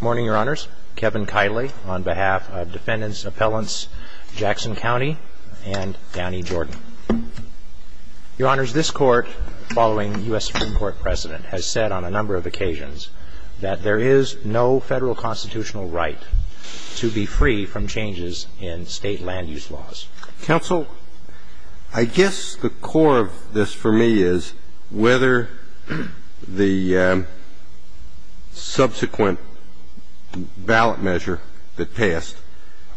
Morning, Your Honors. Kevin Kiley on behalf of Defendants Appellants Jackson County and Danny Jordan. Your Honors, this Court, following U.S. Supreme Court precedent, has said on a number of occasions that there is no federal constitutional right to be free from changes in state land use laws. Counsel, I guess the core of this for me is whether the subsequent ballot measure that passed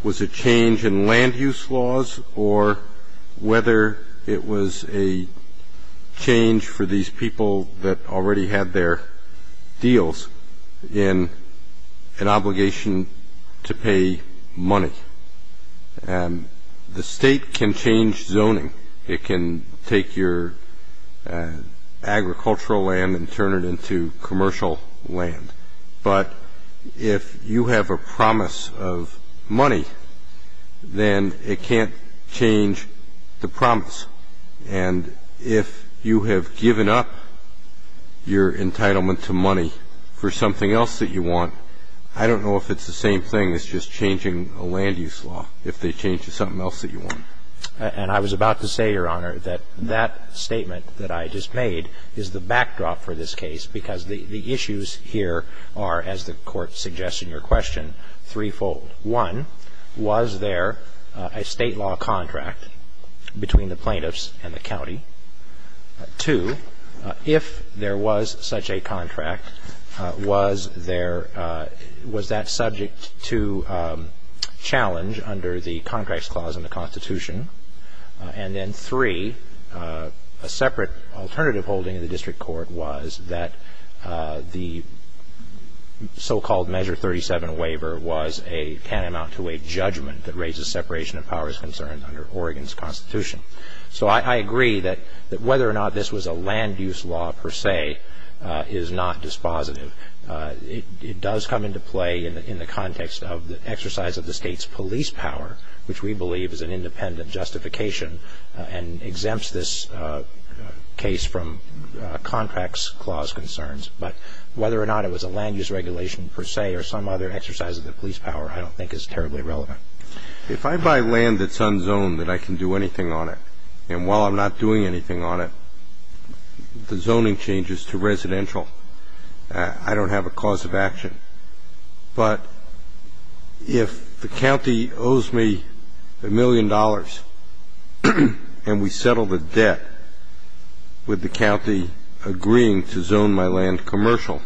was a change in land use laws or whether it was a change for these people that already had their deals in an obligation to pay money. The state can change zoning. It can take your agricultural land and turn it into commercial land. But if you have a promise of money, then it can't change the promise. And if you have given up your entitlement to money for something else that you want, I don't know if it's the same thing as just changing a land use law, if they change to something else that you want. And I was about to say, Your Honor, that that statement that I just made is the backdrop for this case, because the issues here are, as the Court suggests in your question, threefold. One, was there a state law contract between the plaintiffs and the county? Two, if there was such a contract, was that subject to challenge under the Contracts Clause in the Constitution? And then three, a separate alternative holding in the district court was that the so-called Measure 37 waiver can amount to a judgment that raises separation of powers concerned under Oregon's Constitution. So I agree that whether or not this was a land use law per se is not dispositive. It does come into play in the context of the exercise of the state's police power, which we believe is an independent justification and exempts this case from Contracts Clause concerns. But whether or not it was a land use regulation per se or some other exercise of the police power I don't think is terribly relevant. If I buy land that's unzoned that I can do anything on it, and while I'm not doing anything on it, the zoning changes to residential, I don't have a cause of action. But if the county owes me a million dollars and we settle the debt with the county agreeing to zone my land commercial,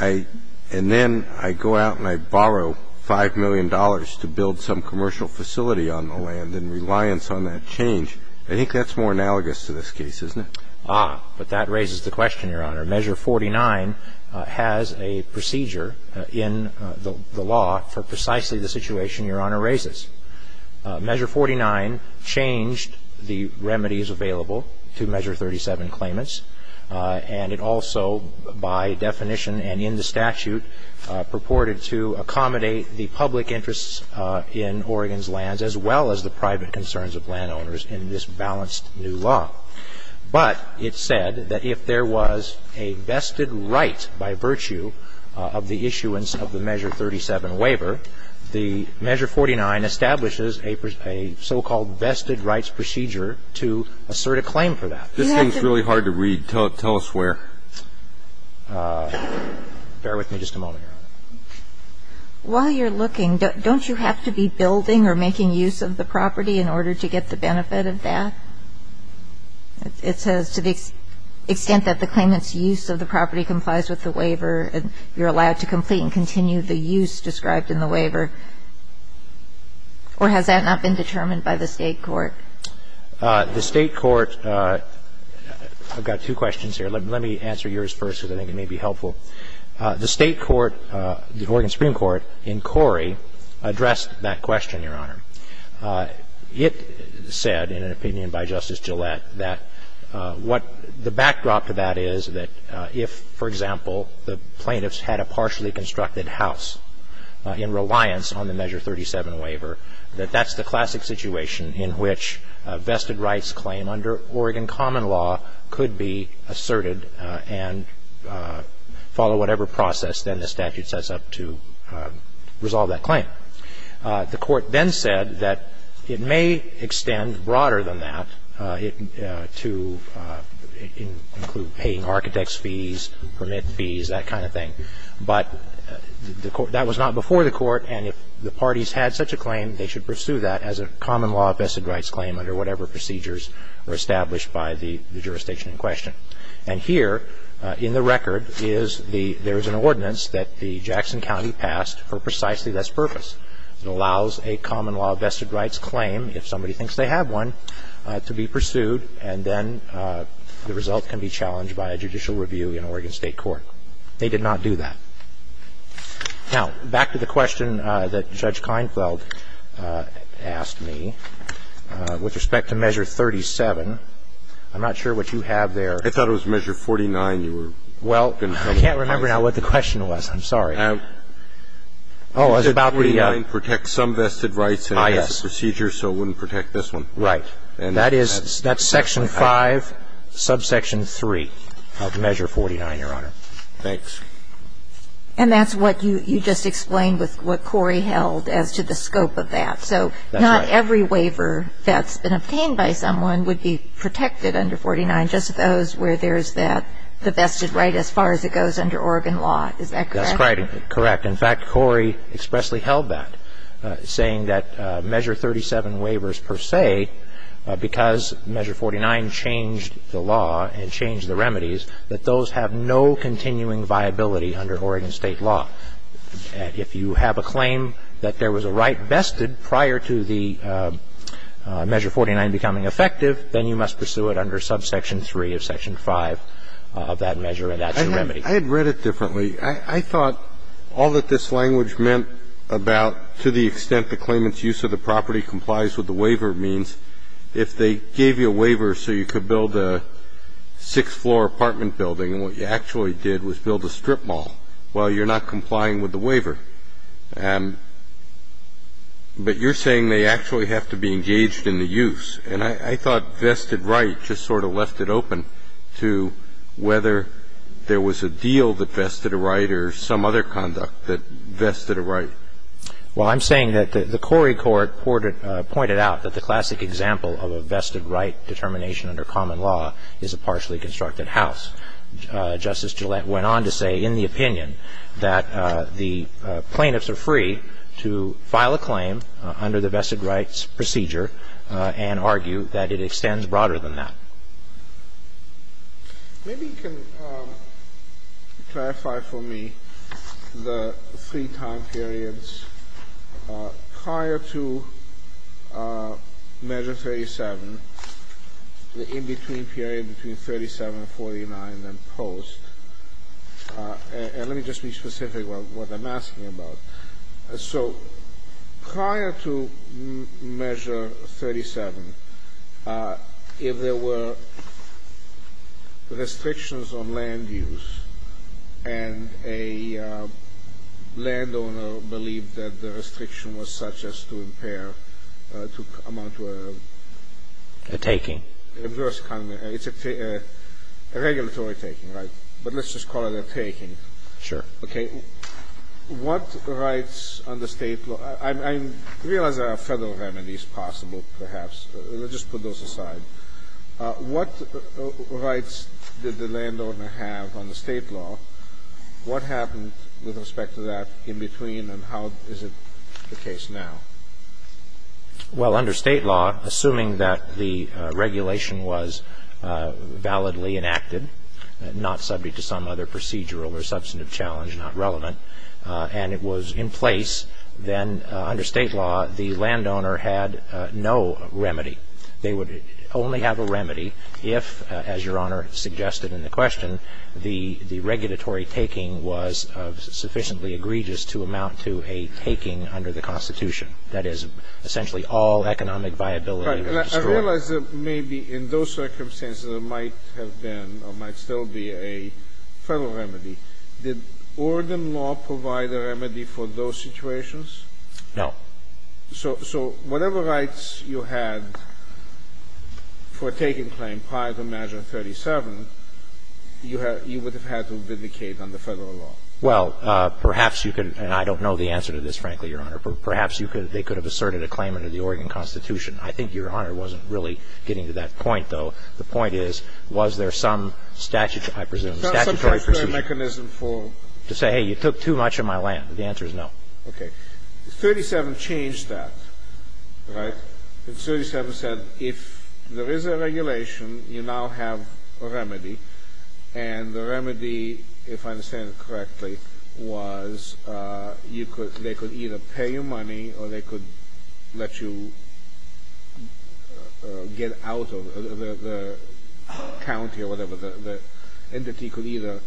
and then I go out and I borrow $5 million to build some commercial facility on the land in reliance on that change, I think that's more analogous to this case, isn't it? Ah, but that raises the question, Your Honor. Measure 49 has a procedure in the law for precisely the situation Your Honor raises. Measure 49 changed the remedies available to Measure 37 claimants. And it also by definition and in the statute purported to accommodate the public interests in Oregon's lands as well as the private concerns of landowners in this balanced new law. But it said that if there was a vested right by virtue of the issuance of the Measure 37 waiver, the Measure 49 establishes a so-called vested rights procedure to assert a claim for that. This thing's really hard to read. Tell us where. Bear with me just a moment, Your Honor. While you're looking, don't you have to be building or making use of the property in order to get the benefit of that? It says to the extent that the claimant's use of the property complies with the waiver, you're allowed to complete and continue the use described in the waiver. Or has that not been determined by the State court? The State court – I've got two questions here. Let me answer yours first because I think it may be helpful. The State court, the Oregon Supreme Court, in Corey addressed that question, Your Honor. It said, in an opinion by Justice Gillette, that what the backdrop to that is, that if, for example, the plaintiffs had a partially constructed house in reliance on the Measure 37 waiver, that that's the classic situation in which a vested rights claim under Oregon common law could be asserted and follow whatever process then the statute sets up to resolve that claim. The court then said that it may extend broader than that to include paying architect's fees, permit fees, that kind of thing. But that was not before the court, and if the parties had such a claim, they should pursue that as a common law vested rights claim under whatever procedures were established by the jurisdiction in question. And here in the record is the – there is an ordinance that the Jackson County passed for precisely this purpose. It allows a common law vested rights claim, if somebody thinks they have one, to be pursued, and then the result can be challenged by a judicial review in Oregon State Court. They did not do that. Now, back to the question that Judge Keinfeld asked me with respect to Measure 37. I'm not sure what you have there. I thought it was Measure 49 you were going to tell me about. Well, I can't remember now what the question was. I'm sorry. Oh, it was about the – You said 49 protects some vested rights and it has a procedure, so it wouldn't protect this one. Right. And that is – that's Section 5, Subsection 3 of Measure 49, Your Honor. Thanks. And that's what you just explained with what Corey held as to the scope of that. That's right. So not every waiver that's been obtained by someone would be protected under 49, just those where there's that – the vested right as far as it goes under Oregon law. Is that correct? That's correct. In fact, Corey expressly held that, saying that Measure 37 waivers per se, because Measure 49 changed the law and changed the remedies, that those have no continuing viability under Oregon State law. If you have a claim that there was a right vested prior to the Measure 49 becoming effective, then you must pursue it under Subsection 3 of Section 5 of that measure and that's the remedy. I had read it differently. I thought all that this language meant about to the extent the claimant's use of the property complies with the waiver means if they gave you a waiver so you could build a six-floor apartment building and what you actually did was build a strip mall, well, you're not complying with the waiver. But you're saying they actually have to be engaged in the use. And I thought vested right just sort of left it open to whether there was a deal that vested a right or some other conduct that vested a right. Well, I'm saying that the Corey court pointed out that the classic example of a vested right determination under common law is a partially constructed house. Justice Gillette went on to say in the opinion that the plaintiffs are free to file a claim under the vested rights procedure and argue that it extends broader than that. Maybe you can clarify for me the three time periods prior to Measure 37, the in-between period between 37 and 49, and then post. And let me just be specific about what I'm asking about. So prior to Measure 37, if there were restrictions on land use and a landowner believed that the restriction was such as to impair, to amount to a ‑‑ A taking. It's a regulatory taking, right? But let's just call it a taking. Sure. Okay. What rights under State law ‑‑ I realize there are Federal remedies possible perhaps. Let's just put those aside. What rights did the landowner have under State law? What happened with respect to that in between, and how is it the case now? Well, under State law, assuming that the regulation was validly enacted, not subject to some other procedural or substantive challenge, not relevant, and it was in place, then under State law the landowner had no remedy. They would only have a remedy if, as Your Honor suggested in the question, the regulatory taking was sufficiently egregious to amount to a taking under the Constitution. That is essentially all economic viability was destroyed. I realize that maybe in those circumstances there might have been or might still be a Federal remedy. Did Oregon law provide a remedy for those situations? No. So whatever rights you had for taking claim prior to Measure 37, you would have had to vindicate under Federal law? Well, perhaps you could ‑‑ and I don't know the answer to this, frankly, Your Honor, but perhaps they could have asserted a claim under the Oregon Constitution. I think Your Honor wasn't really getting to that point, though. The point is, was there some statutory, I presume, statutory procedure to say, hey, you took too much of my land? The answer is no. Okay. 37 changed that, right? 37 said if there is a regulation, you now have a remedy. And the remedy, if I understand it correctly, was you could ‑‑ they could either pay you money or they could let you get out of the county or whatever. The entity could either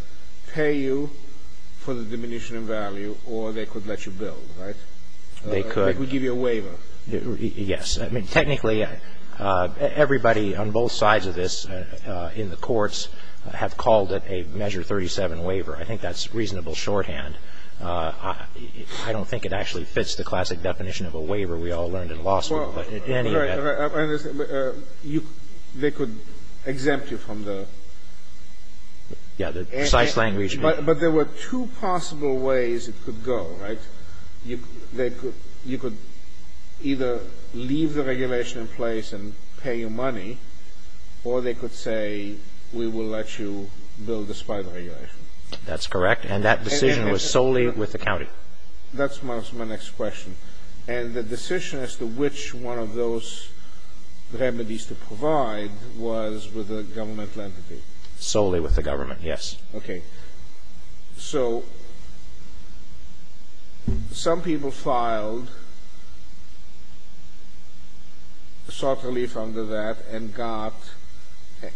pay you for the diminution in value or they could let you build, right? They could. They could give you a waiver. Yes. I mean, technically everybody on both sides of this in the courts have called it a Measure 37 waiver. I think that's reasonable shorthand. I don't think it actually fits the classic definition of a waiver we all learned in law school. But in any event ‑‑ Right. Right. I understand. They could exempt you from the ‑‑ Yeah. The precise language ‑‑ But there were two possible ways it could go, right? You could either leave the regulation in place and pay your money or they could say we will let you build a spider regulation. That's correct. And that decision was solely with the county. That's my next question. And the decision as to which one of those remedies to provide was with a governmental entity. Solely with the government, yes. Okay. So some people filed soft relief under that and got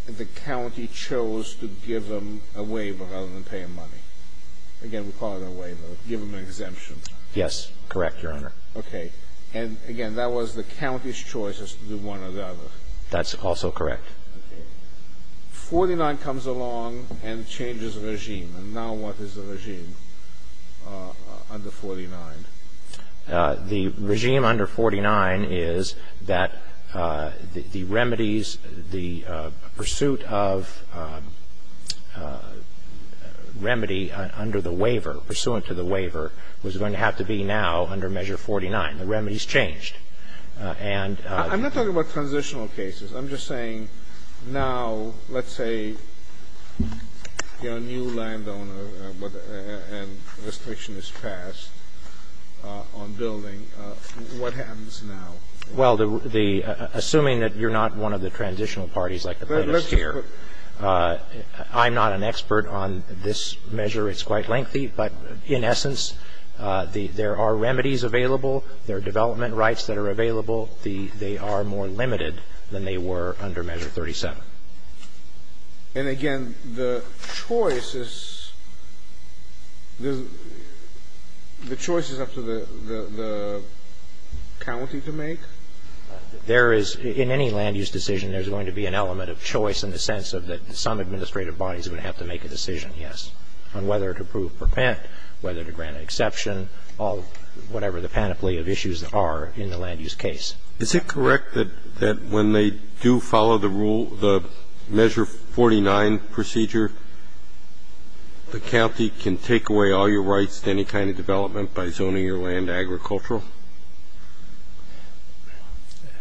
the county chose to give them a waiver rather than pay them money. Again, we call it a waiver. Give them an exemption. Yes. Correct, Your Honor. Okay. And, again, that was the county's choice as to do one or the other. That's also correct. Okay. 49 comes along and changes the regime. And now what is the regime under 49? The regime under 49 is that the remedies, the pursuit of remedy under the waiver, pursuant to the waiver, was going to have to be now under Measure 49. The remedies changed. And ‑‑ I'm not talking about transitional cases. I'm just saying now, let's say, you know, a new landowner and restriction is passed on building, what happens now? Well, the ‑‑ assuming that you're not one of the transitional parties like the plaintiffs here, I'm not an expert on this measure. It's quite lengthy. But, in essence, there are remedies available. There are development rights that are available. They are more limited than they were under Measure 37. And, again, the choice is ‑‑ the choice is up to the county to make? There is ‑‑ in any land use decision, there's going to be an element of choice in the sense of that some administrative body is going to have to make a decision, yes, on whether to approve or prevent, whether to grant an exception, or whatever the panoply of issues are in the land use case. Is it correct that when they do follow the rule, the Measure 49 procedure, the county can take away all your rights to any kind of development by zoning your land agricultural?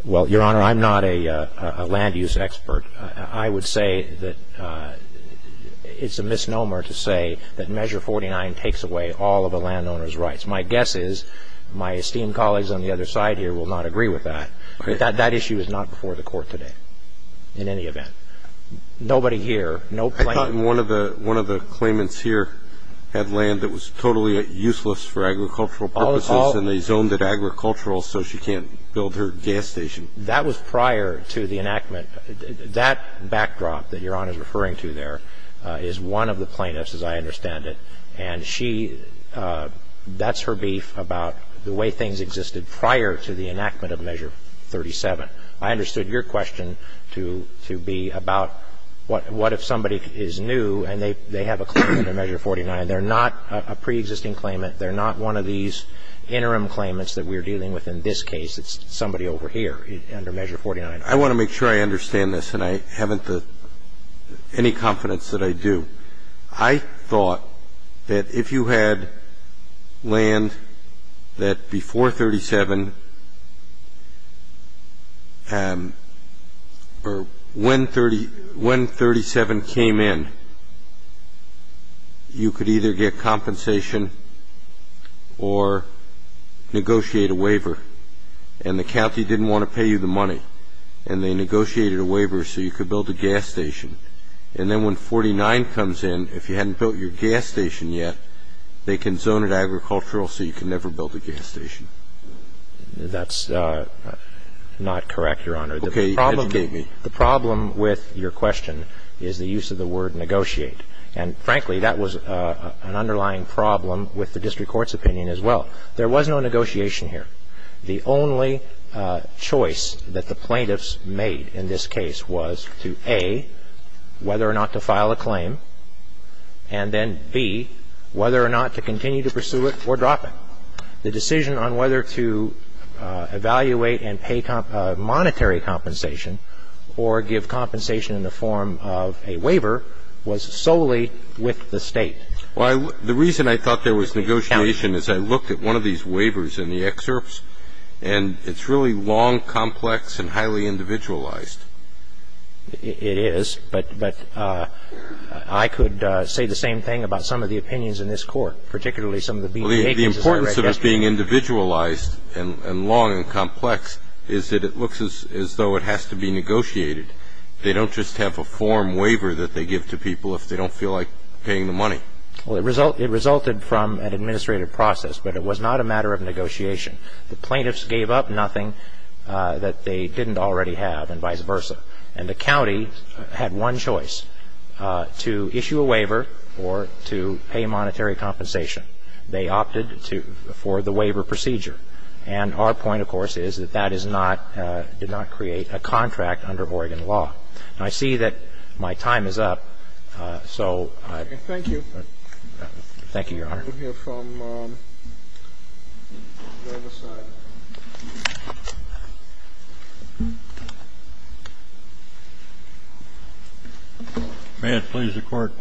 Well, Your Honor, I'm not a land use expert. I would say that it's a misnomer to say that Measure 49 takes away all of a landowner's rights. My guess is my esteemed colleagues on the other side here will not agree with that. But that issue is not before the Court today in any event. Nobody here, no plaintiff. I thought one of the claimants here had land that was totally useless for agricultural purposes and they zoned it agricultural so she can't build her gas station. That was prior to the enactment. That backdrop that Your Honor is referring to there is one of the plaintiffs, as I understand it. And she, that's her beef about the way things existed prior to the enactment of Measure 37. I understood your question to be about what if somebody is new and they have a claim under Measure 49. They're not a preexisting claimant. They're not one of these interim claimants that we're dealing with in this case. It's somebody over here under Measure 49. I want to make sure I understand this, and I haven't any confidence that I do. And I thought that if you had land that before 37 or when 37 came in, you could either get compensation or negotiate a waiver. And the county didn't want to pay you the money, and they negotiated a waiver so you could build a gas station. And then when 49 comes in, if you hadn't built your gas station yet, they can zone it agricultural so you can never build a gas station. That's not correct, Your Honor. Okay. The problem with your question is the use of the word negotiate. And, frankly, that was an underlying problem with the district court's opinion as well. There was no negotiation here. The only choice that the plaintiffs made in this case was to, A, whether or not to file a claim, and then, B, whether or not to continue to pursue it or drop it. The decision on whether to evaluate and pay monetary compensation or give compensation in the form of a waiver was solely with the State. Well, the reason I thought there was negotiation is I looked at one of these waivers in the excerpts, and it's really long, complex, and highly individualized. It is. But I could say the same thing about some of the opinions in this court, particularly some of the BDA cases that I read yesterday. The importance of it being individualized and long and complex is that it looks as though it has to be negotiated. They don't just have a form waiver that they give to people if they don't feel like paying the money. Well, it resulted from an administrative process, but it was not a matter of negotiation. The plaintiffs gave up nothing that they didn't already have and vice versa. And the county had one choice, to issue a waiver or to pay monetary compensation. They opted for the waiver procedure. And our point, of course, is that that is not, did not create a contract under Oregon law. And I see that my time is up, so I. Thank you. Thank you, Your Honor. We'll hear from the other side. May it please the Court.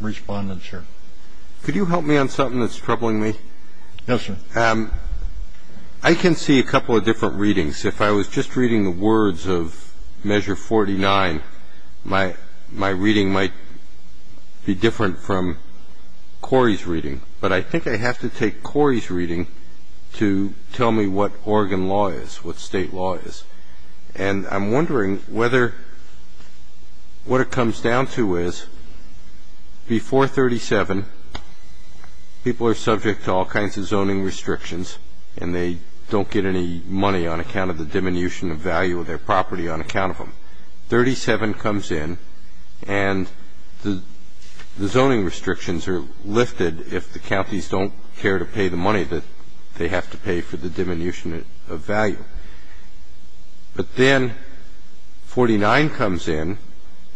Respondent, sir. Could you help me on something that's troubling me? Yes, sir. I can see a couple of different readings. If I was just reading the words of Measure 49, my reading might be different from Corey's reading. But I think I have to take Corey's reading to tell me what Oregon law is, what state law is. And I'm wondering whether what it comes down to is before 37, people are subject to all kinds of zoning restrictions and they don't get any money on account of the diminution of value of their property on account of them. 37 comes in and the zoning restrictions are lifted and then 49 comes in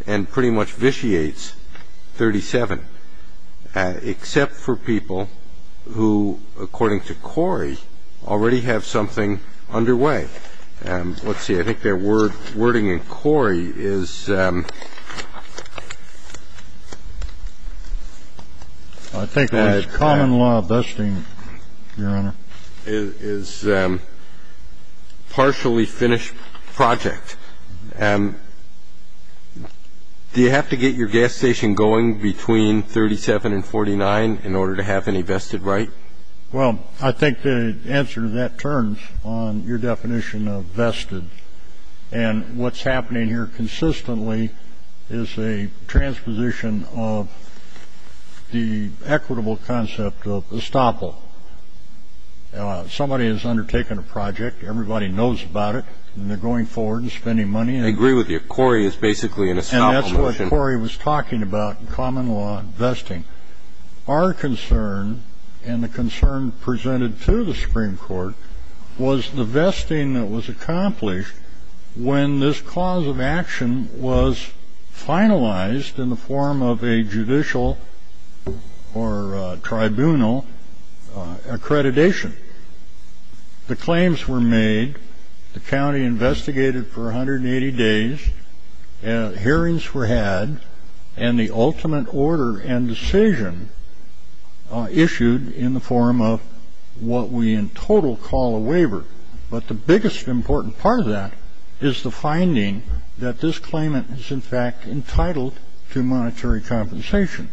and pretty much vitiates 37, except for people who, according to Corey, already have something underway. Let's see. I think their wording in Corey is, I think that's common law vesting, Your Honor, is partially finished project. Do you have to get your gas station going between 37 and 49 in order to have any vested right? Well, I think the answer to that turns on your definition of vested. And what's happening here consistently is a transposition of the equitable concept of estoppel. Somebody has undertaken a project. Everybody knows about it and they're going forward and spending money. I agree with you. Corey is basically an estoppel motion. And that's what Corey was talking about, common law vesting. Our concern and the concern presented to the Supreme Court was the vesting that was accomplished when this cause of action was finalized in the form of a judicial or tribunal accreditation. The claims were made. The county investigated for 180 days. Hearings were had. And the ultimate order and decision issued in the form of what we in total call a waiver. But the biggest important part of that is the finding that this claimant is, in fact, entitled to monetary compensation.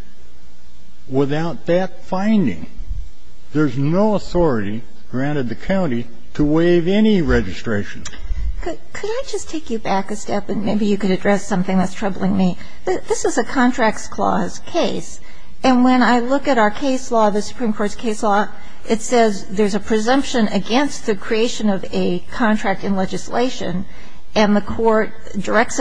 Without that finding, there's no authority granted the county to waive any registration. Could I just take you back a step and maybe you could address something that's troubling me? This is a contracts clause case. And when I look at our case law, the Supreme Court's case law, it says there's a presumption against the creation of a contract in legislation. And the Supreme Court directs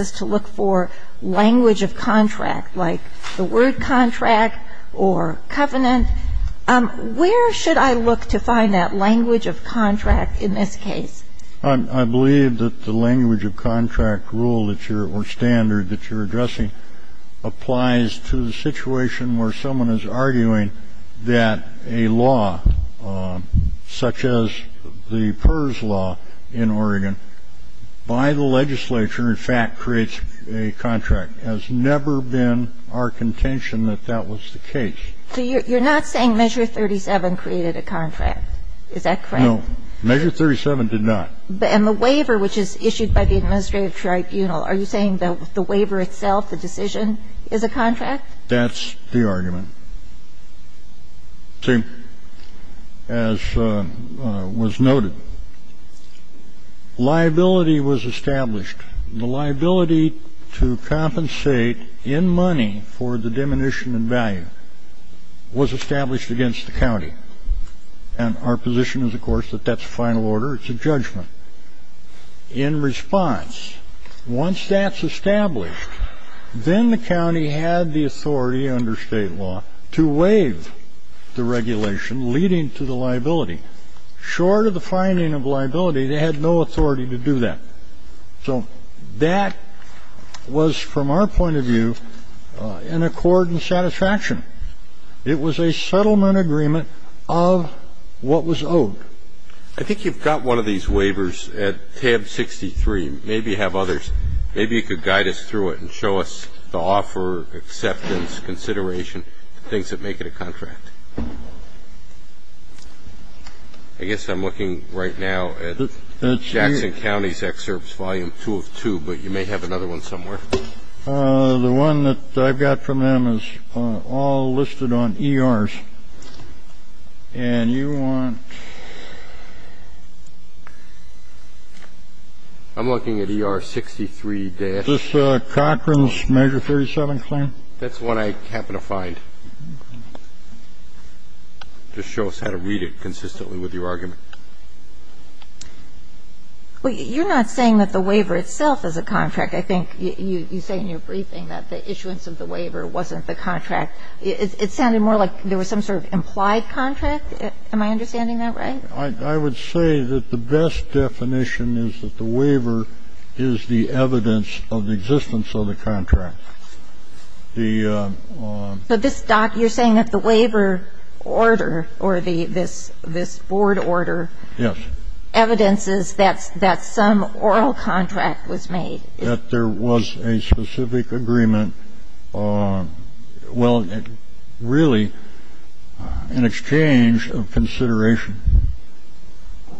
us to look for language of contract, like the word contract or covenant. Where should I look to find that language of contract in this case? I believe that the language of contract rule or standard that you're addressing applies to the situation where someone is arguing that a law such as the PERS law in Oregon by the legislature, in fact, creates a contract. It has never been our contention that that was the case. So you're not saying measure 37 created a contract. Is that correct? No. Measure 37 did not. And the waiver, which is issued by the administrative tribunal, are you saying that the waiver itself, the decision, is a contract? That's the argument. See, as was noted, liability was established. The liability to compensate in money for the diminution in value was established against the county. And our position is, of course, that that's final order. It's a judgment. In response, once that's established, then the county had the authority under state law to waive the regulation leading to the liability. Short of the finding of liability, they had no authority to do that. So that was, from our point of view, in accord and satisfaction. It was a settlement agreement of what was owed. I think you've got one of these waivers at tab 63. Maybe you have others. Maybe you could guide us through it and show us the offer, acceptance, consideration, things that make it a contract. I guess I'm looking right now at Jackson County's excerpts, Volume 2 of 2, but you may have another one somewhere. The one that I've got from them is all listed on ERs. And you want to... I'm looking at ER 63-... Is this Cochran's Measure 37 claim? That's the one I happen to find. Just show us how to read it consistently with your argument. Well, you're not saying that the waiver itself is a contract. I think you say in your briefing that the issuance of the waiver wasn't the contract. It sounded more like there was some sort of implied contract. Am I understanding that right? I would say that the best definition is that the waiver is the evidence of the existence of the contract. But this, Doc, you're saying that the waiver order or this board order... Yes. Evidence is that some oral contract was made. That there was a specific agreement. Well, really, an exchange of consideration,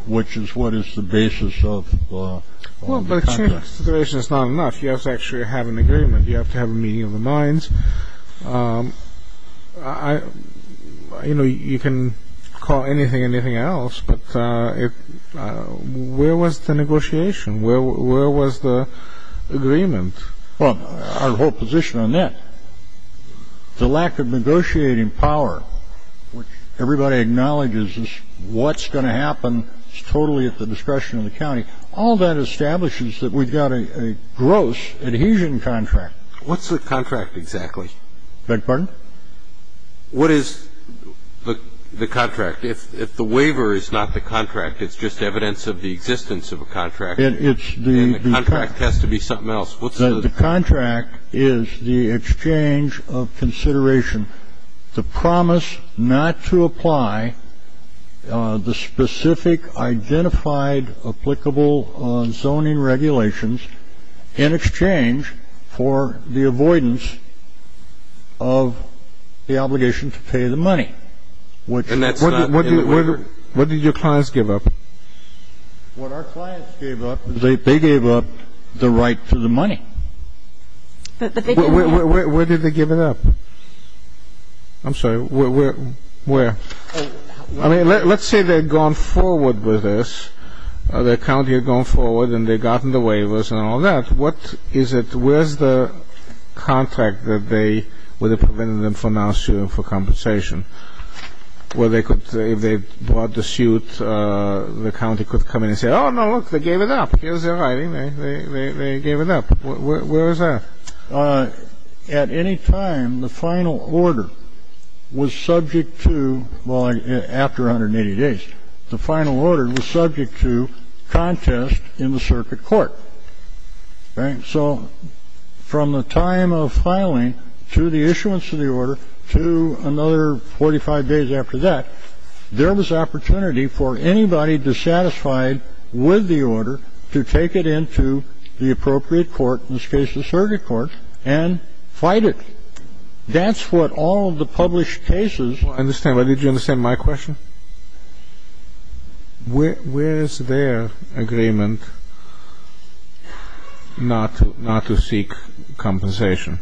which is what is the basis of the contract. Well, but exchange of consideration is not enough. You have to actually have an agreement. You have to have a meeting of the minds. You know, you can call anything anything else, but where was the negotiation? Where was the agreement? Well, our whole position on that, the lack of negotiating power, which everybody acknowledges is what's going to happen is totally at the discretion of the county. All that establishes that we've got a gross adhesion contract. What's the contract exactly? Beg your pardon? What is the contract? If the waiver is not the contract, it's just evidence of the existence of a contract. And the contract has to be something else. The contract is the exchange of consideration, the promise not to apply the specific identified applicable zoning regulations in exchange for the avoidance of the obligation to pay the money. And that's not in the waiver? What did your clients give up? What our clients gave up is they gave up the right to the money. Where did they give it up? I'm sorry, where? I mean, let's say they'd gone forward with this. The county had gone forward and they'd gotten the waivers and all that. What is it? Where's the contract that they would have prevented them from now suing for compensation? Well, they could, if they brought the suit, the county could come in and say, oh, no, look, they gave it up. Here's their writing. They gave it up. Where is that? At any time, the final order was subject to, well, after 180 days, the final order was subject to contest in the circuit court. So from the time of filing to the issuance of the order to another 45 days after that, there was opportunity for anybody dissatisfied with the order to take it into the appropriate court, in this case the circuit court, and fight it. That's what all of the published cases. I understand. But did you understand my question? Where is their agreement not to seek compensation?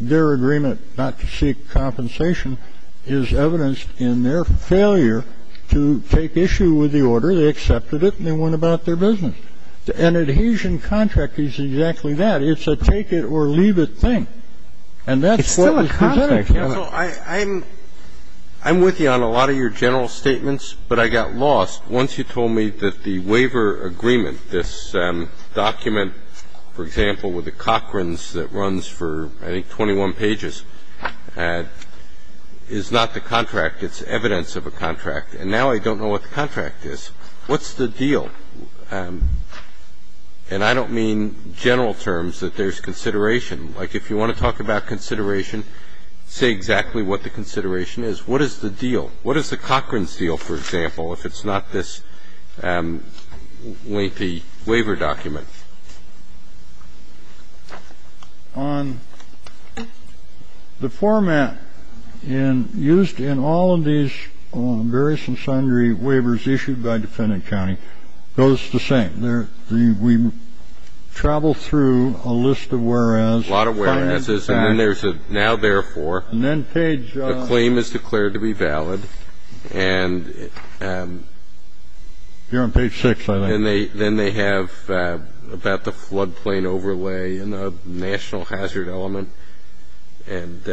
Their agreement not to seek compensation is evidenced in their failure to take issue with the order. They accepted it and they went about their business. An adhesion contract is exactly that. It's a take it or leave it thing. And that's what was presented. It's still a contract. Counsel, I'm with you on a lot of your general statements, but I got lost. Once you told me that the waiver agreement, this document, for example, with the Cochran's that runs for, I think, 21 pages, is not the contract. It's evidence of a contract. And now I don't know what the contract is. What's the deal? And I don't mean general terms, that there's consideration. Like, if you want to talk about consideration, say exactly what the consideration is. What is the deal? What is the Cochran's deal, for example, if it's not this lengthy waiver document? On the format used in all of these various and sundry waivers issued by Defendant County, those are the same. We travel through a list of whereas. A lot of whereas. And then there's a now therefore. The claim is declared to be valid. And then they have about the floodplain overlay and the national hazard element. And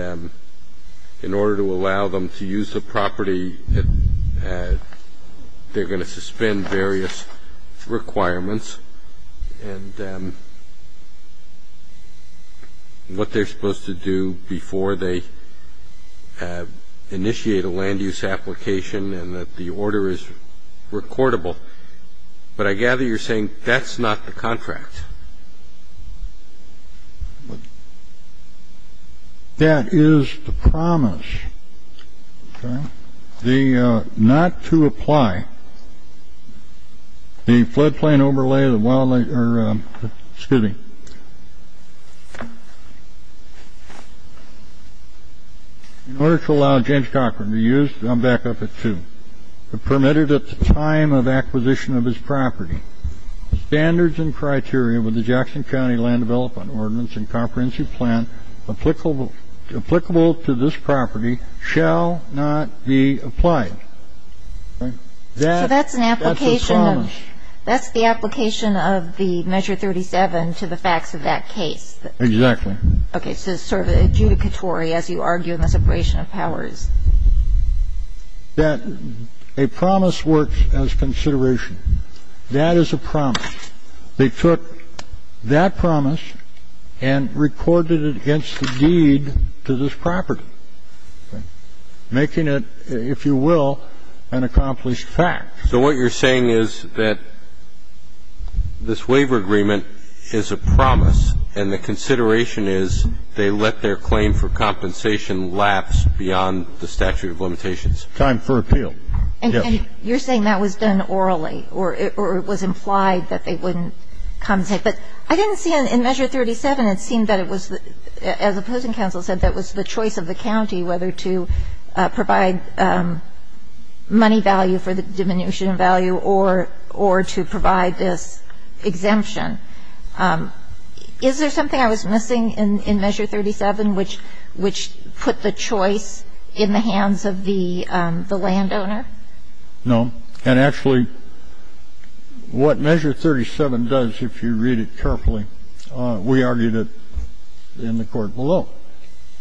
in order to allow them to use the property, they're going to suspend various requirements. And what they're supposed to do before they initiate a land use application and that the order is recordable. But I gather you're saying that's not the contract. That is the promise. The not to apply the floodplain overlay. Well, excuse me. In order to allow James Cochran to use, I'm back up at two, permitted at the time of acquisition of his property standards and criteria with the Jackson County Land Development Ordinance and Comprehensive Plan applicable to this property shall not be applied. So that's an application. That's the promise. That's the application of the Measure 37 to the facts of that case. Exactly. Okay. So it's sort of adjudicatory as you argue in the separation of powers. That a promise works as consideration. That is a promise. They took that promise and recorded it against the deed to this property, making it, if you will, an accomplished fact. So what you're saying is that this waiver agreement is a promise and the consideration is they let their claim for compensation lapse beyond the statute of limitations. Time for appeal. Yes. You're saying that was done orally or it was implied that they wouldn't compensate. But I didn't see in Measure 37, it seemed that it was, as opposing counsel said, that was the choice of the county whether to provide money value for the diminution of value or to provide this exemption. Is there something I was missing in Measure 37 which put the choice in the hands of the landowner? No. And actually, what Measure 37 does, if you read it carefully, we argued it in the court below.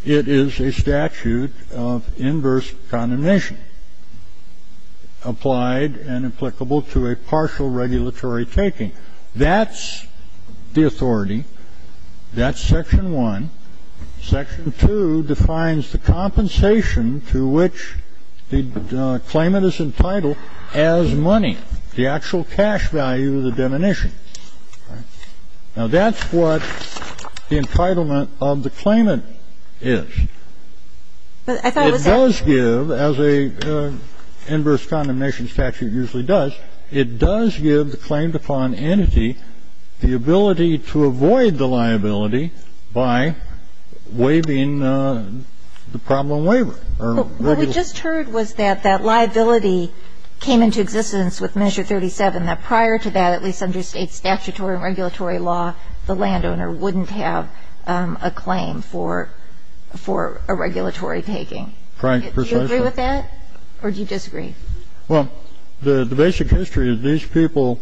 It is a statute of inverse condemnation applied and applicable to a partial regulatory taking. That's the authority. That's Section 1. Section 2 defines the compensation to which the claimant is entitled as money, the actual cash value of the diminution. Now, that's what the entitlement of the claimant is. It does give, as an inverse condemnation statute usually does, it does give the claimed upon entity the ability to avoid the liability by waiving the problem waiver. What we just heard was that that liability came into existence with Measure 37, that prior to that, at least under State statutory and regulatory law, the landowner wouldn't have a claim for a regulatory taking. Precisely. Do you agree with that or do you disagree? Well, the basic history of these people,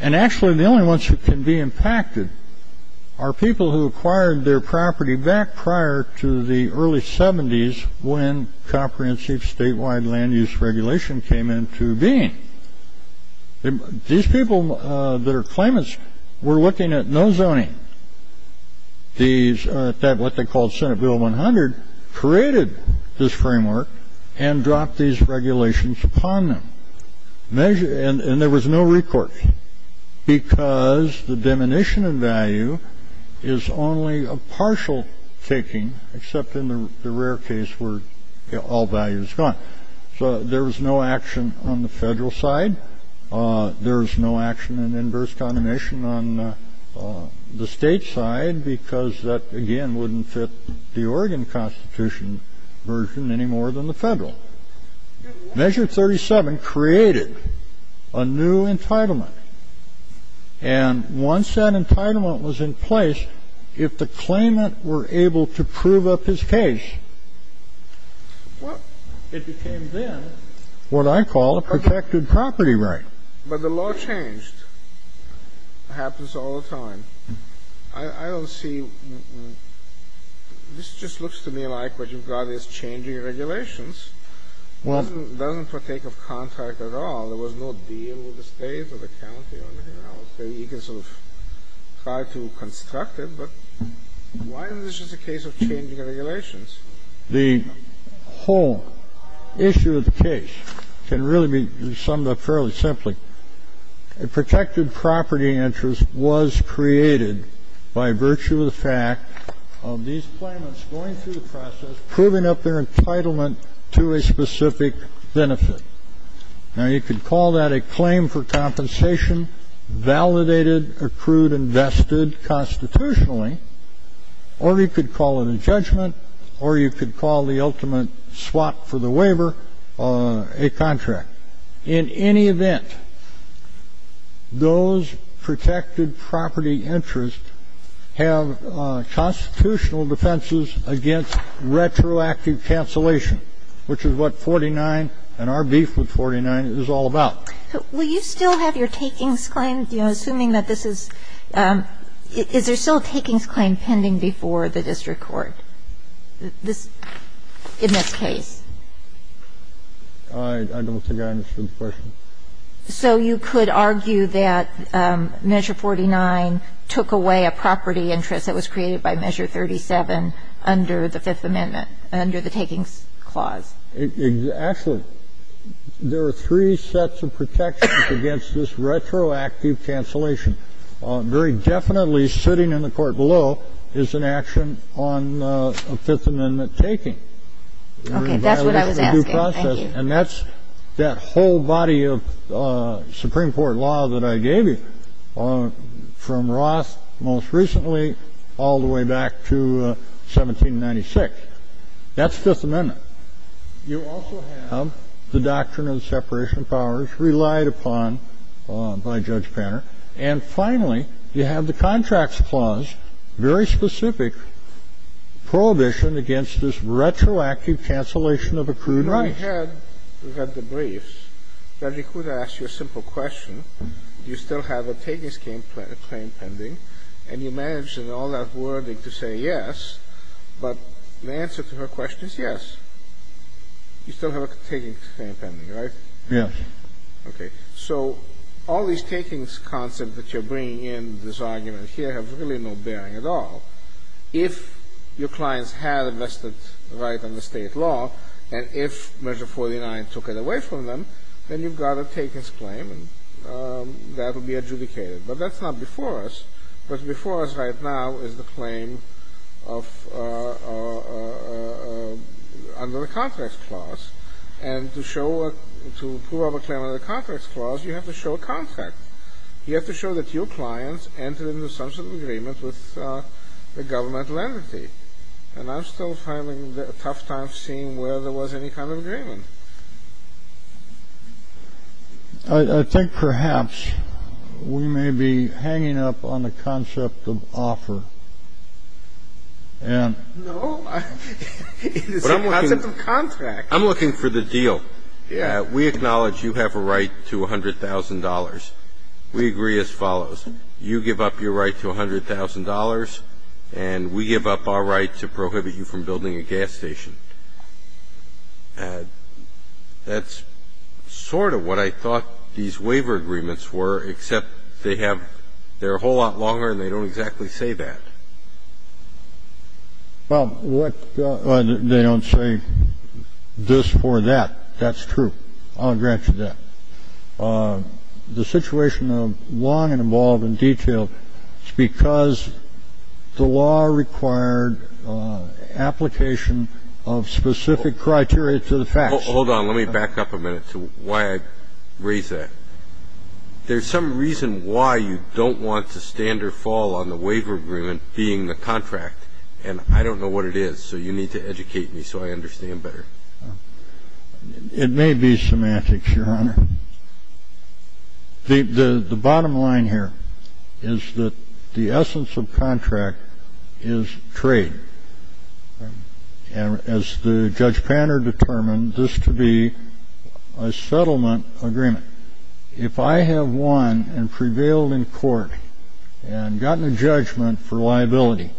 and actually the only ones who can be impacted, are people who acquired their property back prior to the early 70s when comprehensive statewide land use regulation came into being. These people, their claimants, were looking at no zoning. What they called Senate Bill 100 created this framework and dropped these regulations upon them. And there was no recourse because the diminution in value is only a partial taking, except in the rare case where all value is gone. So there was no action on the federal side. There is no action in inverse condemnation on the state side because that, again, wouldn't fit the Oregon Constitution version any more than the federal. Measure 37 created a new entitlement. And once that entitlement was in place, if the claimant were able to prove up his case, Well, it became then what I call a protected property right. But the law changed. It happens all the time. I don't see ñ this just looks to me like what you've got is changing regulations. Well It doesn't partake of contract at all. There was no deal with the state or the county or anything else. You can sort of try to construct it. But why isn't this just a case of changing regulations? The whole issue of the case can really be summed up fairly simply. A protected property interest was created by virtue of the fact of these claimants going through the process, proving up their entitlement to a specific benefit. Now, you could call that a claim for compensation, validated, accrued, invested constitutionally, or you could call it a judgment, or you could call the ultimate swap for the waiver a contract. In any event, those protected property interests have constitutional defenses against retroactive cancellation, which is what 49 and our beef with 49 is all about. Will you still have your takings claim, you know, assuming that this is ñ is there still a takings claim pending before the district court in this case? I don't think I understood the question. So you could argue that Measure 49 took away a property interest that was created by Measure 37 under the Fifth Amendment, under the takings clause? Actually, there are three sets of protections against this retroactive cancellation. Very definitely sitting in the court below is an action on a Fifth Amendment taking. Okay, that's what I was asking. Thank you. And that's that whole body of Supreme Court law that I gave you, from Roth most recently all the way back to 1796. That's Fifth Amendment. You also have the doctrine of separation of powers relied upon by Judge Panner. And finally, you have the contracts clause, very specific prohibition against this retroactive cancellation of accrued interest. When we had the briefs, Judge Ikuda asked you a simple question. Do you still have a takings claim pending? And you managed in all that wording to say yes, but the answer to her question is yes. You still have a takings claim pending, right? Yes. Okay. So all these takings concepts that you're bringing in, this argument here, have really no bearing at all. If your clients had invested right under State law, and if Measure 49 took it away from them, then you've got a takings claim, and that will be adjudicated. But that's not before us. What's before us right now is the claim of under the contracts clause. And to prove a claim under the contracts clause, you have to show a contract. You have to show that your clients entered into some sort of agreement with the government entity. And I'm still finding it a tough time seeing where there was any kind of agreement. I think perhaps we may be hanging up on the concept of offer. No, it's the concept of contract. I'm looking for the deal. Yeah. We acknowledge you have a right to $100,000. We agree as follows. You give up your right to $100,000, and we give up our right to prohibit you from building a gas station. That's sort of what I thought these waiver agreements were, except they're a whole lot longer and they don't exactly say that. Well, what they don't say this for that. That's true. I'll grant you that. The situation of long and involved and detailed, it's because the law required application of specific criteria to the facts. Hold on. Let me back up a minute to why I raised that. There's some reason why you don't want to stand or fall on the waiver agreement being the contract, and I don't know what it is, so you need to educate me so I understand better. It may be semantics, Your Honor. The bottom line here is that the essence of contract is trade. And as Judge Panner determined, this to be a settlement agreement. If I have won and prevailed in court and gotten a judgment for liability,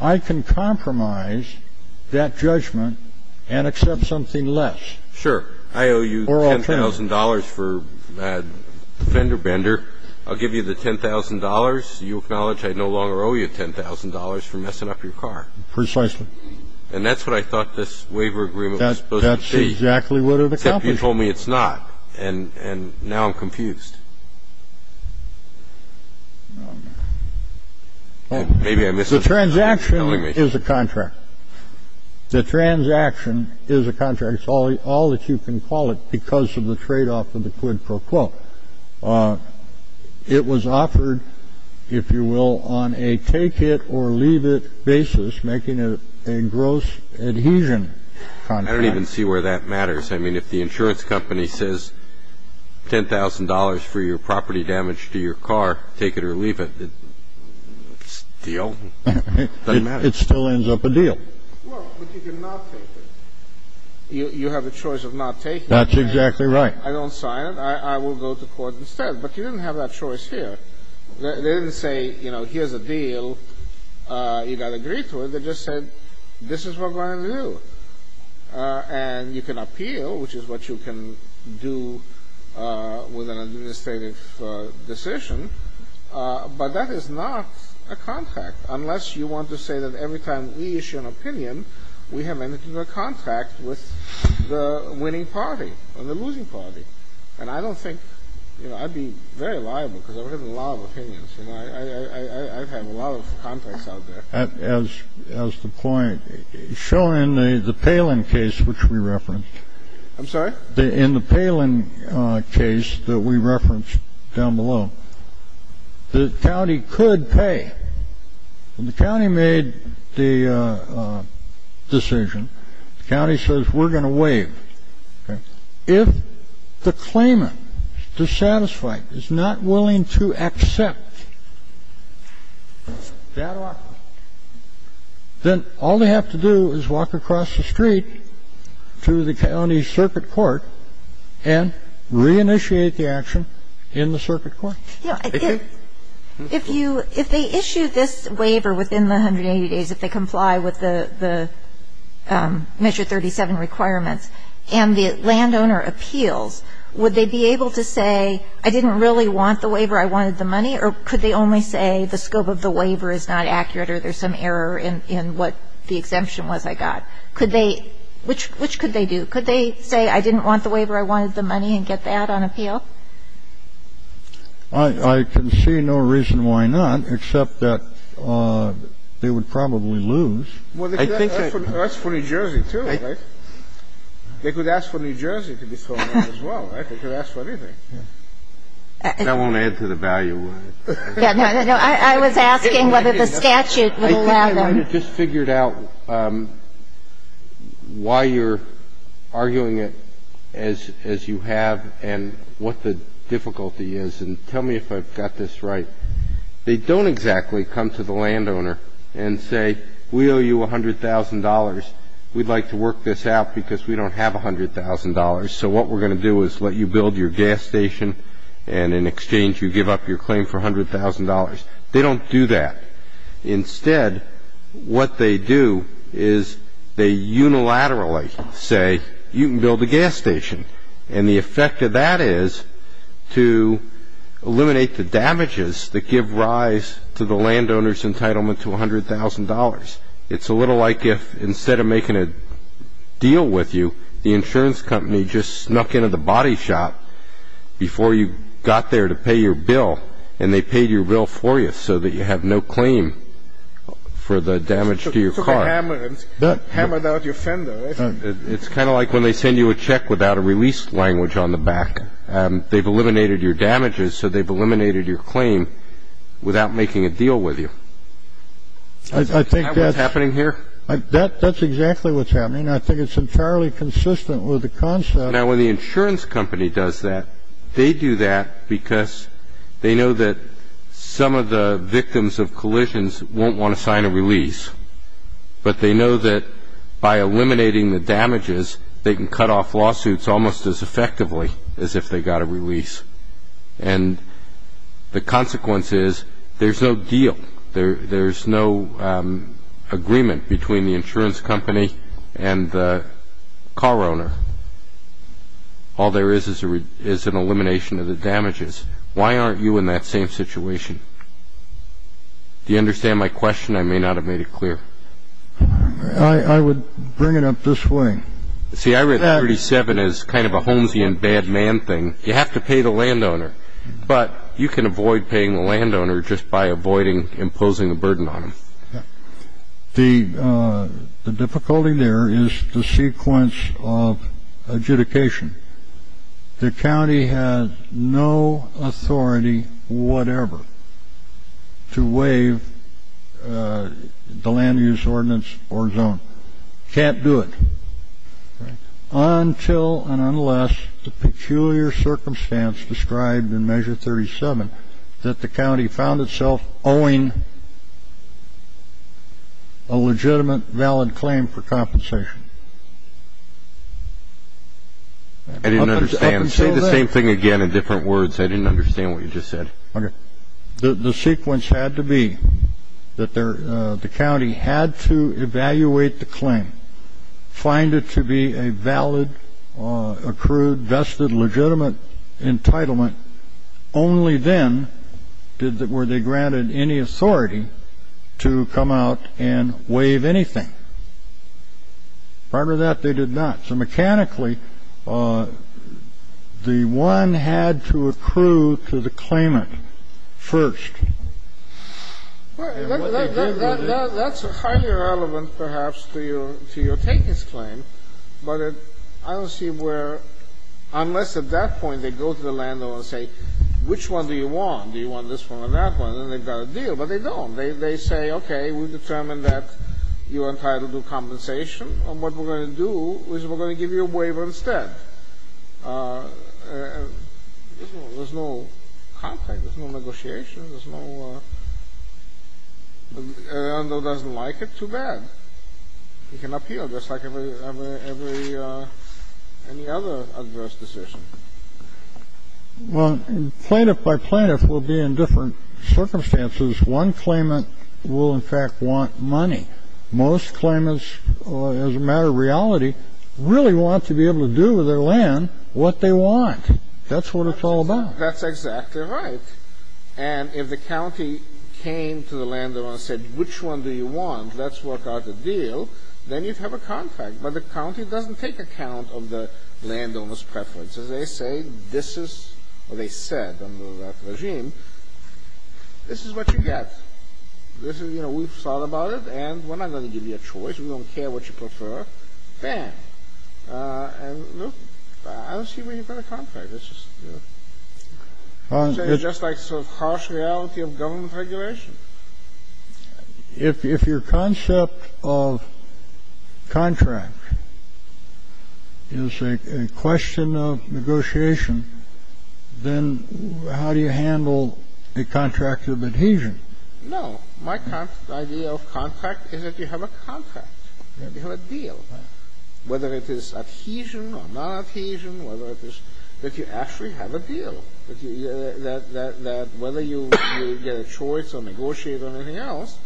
I can compromise that judgment and accept something less. Sure. I owe you $10,000 for fender-bender. I'll give you the $10,000. You acknowledge I no longer owe you $10,000 for messing up your car. Precisely. And that's what I thought this waiver agreement was supposed to be. That's exactly what it accomplished. Except you told me it's not, and now I'm confused. The transaction is a contract. The transaction is a contract. It's all that you can call it because of the tradeoff of the quid pro quo. It was offered, if you will, on a take-it-or-leave-it basis, making it a gross adhesion contract. I don't even see where that matters. I mean, if the insurance company says $10,000 for your property damage to your car, take it or leave it, it's a deal. It doesn't matter. It still ends up a deal. Well, but you can not take it. You have a choice of not taking it. That's exactly right. I don't sign it. I will go to court instead. But you didn't have that choice here. They didn't say, you know, here's a deal. You got to agree to it. They just said, this is what we're going to do. And you can appeal, which is what you can do with an administrative decision. But that is not a contract, unless you want to say that every time we issue an opinion, we have entered into a contract with the winning party or the losing party. And I don't think, you know, I'd be very liable because I've written a lot of opinions. You know, I've had a lot of contracts out there. As the point, showing the Palin case, which we referenced. I'm sorry? In the Palin case that we referenced down below, the county could pay. And the county made the decision. The county says, we're going to waive. If the claimant, dissatisfied, is not willing to accept that offer, then all they have to do is walk across the street to the county circuit court and reinitiate the action in the circuit court. If you, if they issue this waiver within the 180 days, if they comply with the Measure 37 requirements, and the landowner appeals, would they be able to say, I didn't really want the waiver, I wanted the money? Or could they only say, the scope of the waiver is not accurate, or there's some error in what the exemption was I got? Could they, which could they do? Could they say, I didn't want the waiver, I wanted the money, and get that on appeal? I can see no reason why not, except that they would probably lose. Well, they could ask for New Jersey, too, right? They could ask for New Jersey to be thrown out as well, right? They could ask for anything. That won't add to the value, would it? No. I was asking whether the statute would allow them. I just figured out why you're arguing it as you have, and what the difficulty is. And tell me if I've got this right. They don't exactly come to the landowner and say, we owe you $100,000. We'd like to work this out because we don't have $100,000. So what we're going to do is let you build your gas station, and in exchange, you give up your claim for $100,000. They don't do that. Instead, what they do is they unilaterally say, you can build a gas station. And the effect of that is to eliminate the damages that give rise to the landowner's entitlement to $100,000. It's a little like if, instead of making a deal with you, the insurance company just snuck into the body shop before you got there to pay your bill, and they paid your bill for you so that you have no claim for the damage to your car. So they took a hammer and hammered out your fender. It's kind of like when they send you a check without a release language on the back. They've eliminated your damages, so they've eliminated your claim without making a deal with you. Isn't that what's happening here? That's exactly what's happening. I think it's entirely consistent with the concept. Now, when the insurance company does that, they do that because they know that some of the victims of collisions won't want to sign a release. But they know that by eliminating the damages, they can cut off lawsuits almost as effectively as if they got a release. And the consequence is there's no deal. There's no agreement between the insurance company and the car owner. All there is is an elimination of the damages. Why aren't you in that same situation? Do you understand my question? I may not have made it clear. I would bring it up this way. See, I read 37 as kind of a homesy and bad man thing. You have to pay the landowner. But you can avoid paying the landowner just by avoiding imposing a burden on him. The difficulty there is the sequence of adjudication. The county has no authority whatever to waive the land use ordinance or zone. Can't do it. Until and unless the peculiar circumstance described in Measure 37 that the county found itself owing a legitimate, valid claim for compensation. I didn't understand. Say the same thing again in different words. I didn't understand what you just said. Okay. The sequence had to be that the county had to evaluate the claim, find it to be a valid, accrued, vested, legitimate entitlement. Only then were they granted any authority to come out and waive anything. Prior to that, they did not. So mechanically, the one had to accrue to the claimant first. That's highly relevant perhaps to your takings claim. But I don't see where unless at that point they go to the landowner and say, which one do you want? Do you want this one or that one? Then they've got a deal. But they don't. They say, okay, we've determined that you are entitled to compensation. And what we're going to do is we're going to give you a waiver instead. There's no contract. There's no negotiation. There's no one. The landowner doesn't like it. Too bad. He can appeal, just like every other adverse decision. Well, plaintiff by plaintiff will be in different circumstances. One claimant will, in fact, want money. Most claimants, as a matter of reality, really want to be able to do with their land what they want. That's what it's all about. That's exactly right. And if the county came to the landowner and said, which one do you want? Let's work out a deal. Then you'd have a contract. But the county doesn't take account of the landowner's preferences. They say this is what they said under that regime. This is what you get. We've thought about it. And we're not going to give you a choice. We don't care what you prefer. Bam. And look, I don't see where you've got a contract. It's just like sort of harsh reality of government regulation. If your concept of contract is a question of negotiation, then how do you handle a contract of adhesion? No. My idea of contract is that you have a contract. You have a deal. Whether it is adhesion or nonadhesion, whether it is that you actually have a deal, that whether you get a choice or negotiate or anything else,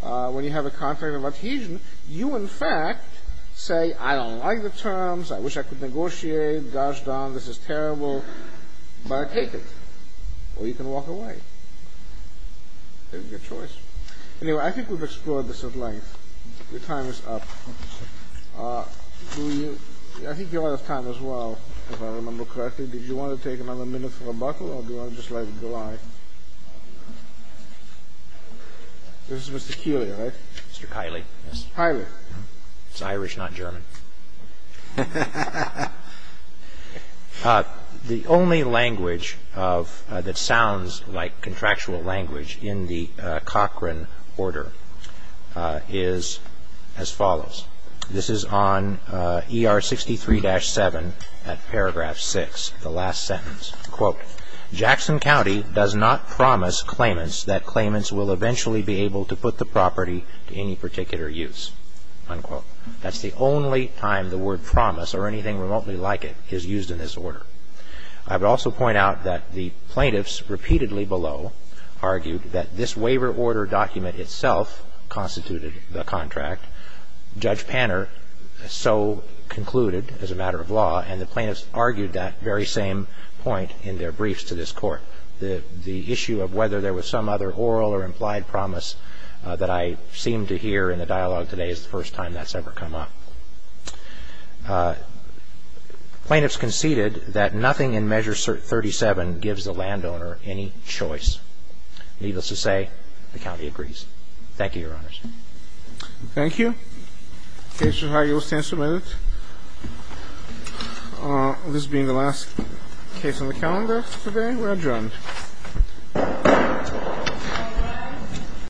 when you have a contract of adhesion, you in fact say, I don't like the terms. I wish I could negotiate. Gosh darn, this is terrible. But I take it. Or you can walk away. It's your choice. Anyway, I think we've explored this at length. Your time is up. I think you'll have time as well, if I remember correctly. Did you want to take another minute for rebuttal or do you want to just let it go on? This is Mr. Keeley, right? Mr. Kiley. Kiley. It's Irish, not German. The only language that sounds like contractual language in the Cochran order is as follows. This is on ER 63-7 at paragraph 6, the last sentence. Quote, Jackson County does not promise claimants that claimants will eventually be able to put the property to any particular use. Unquote. That's the only time the word promise or anything remotely like it is used in this order. I would also point out that the plaintiffs repeatedly below argued that this waiver order document itself constituted the contract. Judge Panner so concluded as a matter of law, and the plaintiffs argued that very same point in their briefs to this Court. The issue of whether there was some other oral or implied promise that I seem to hear in the dialogue today is the first time that's ever come up. Plaintiffs conceded that nothing in Measure 37 gives the landowner any choice. Needless to say, the county agrees. Thank you, Your Honors. Thank you. The case is here. You will stand for a minute. This being the last case on the calendar today, we're adjourned.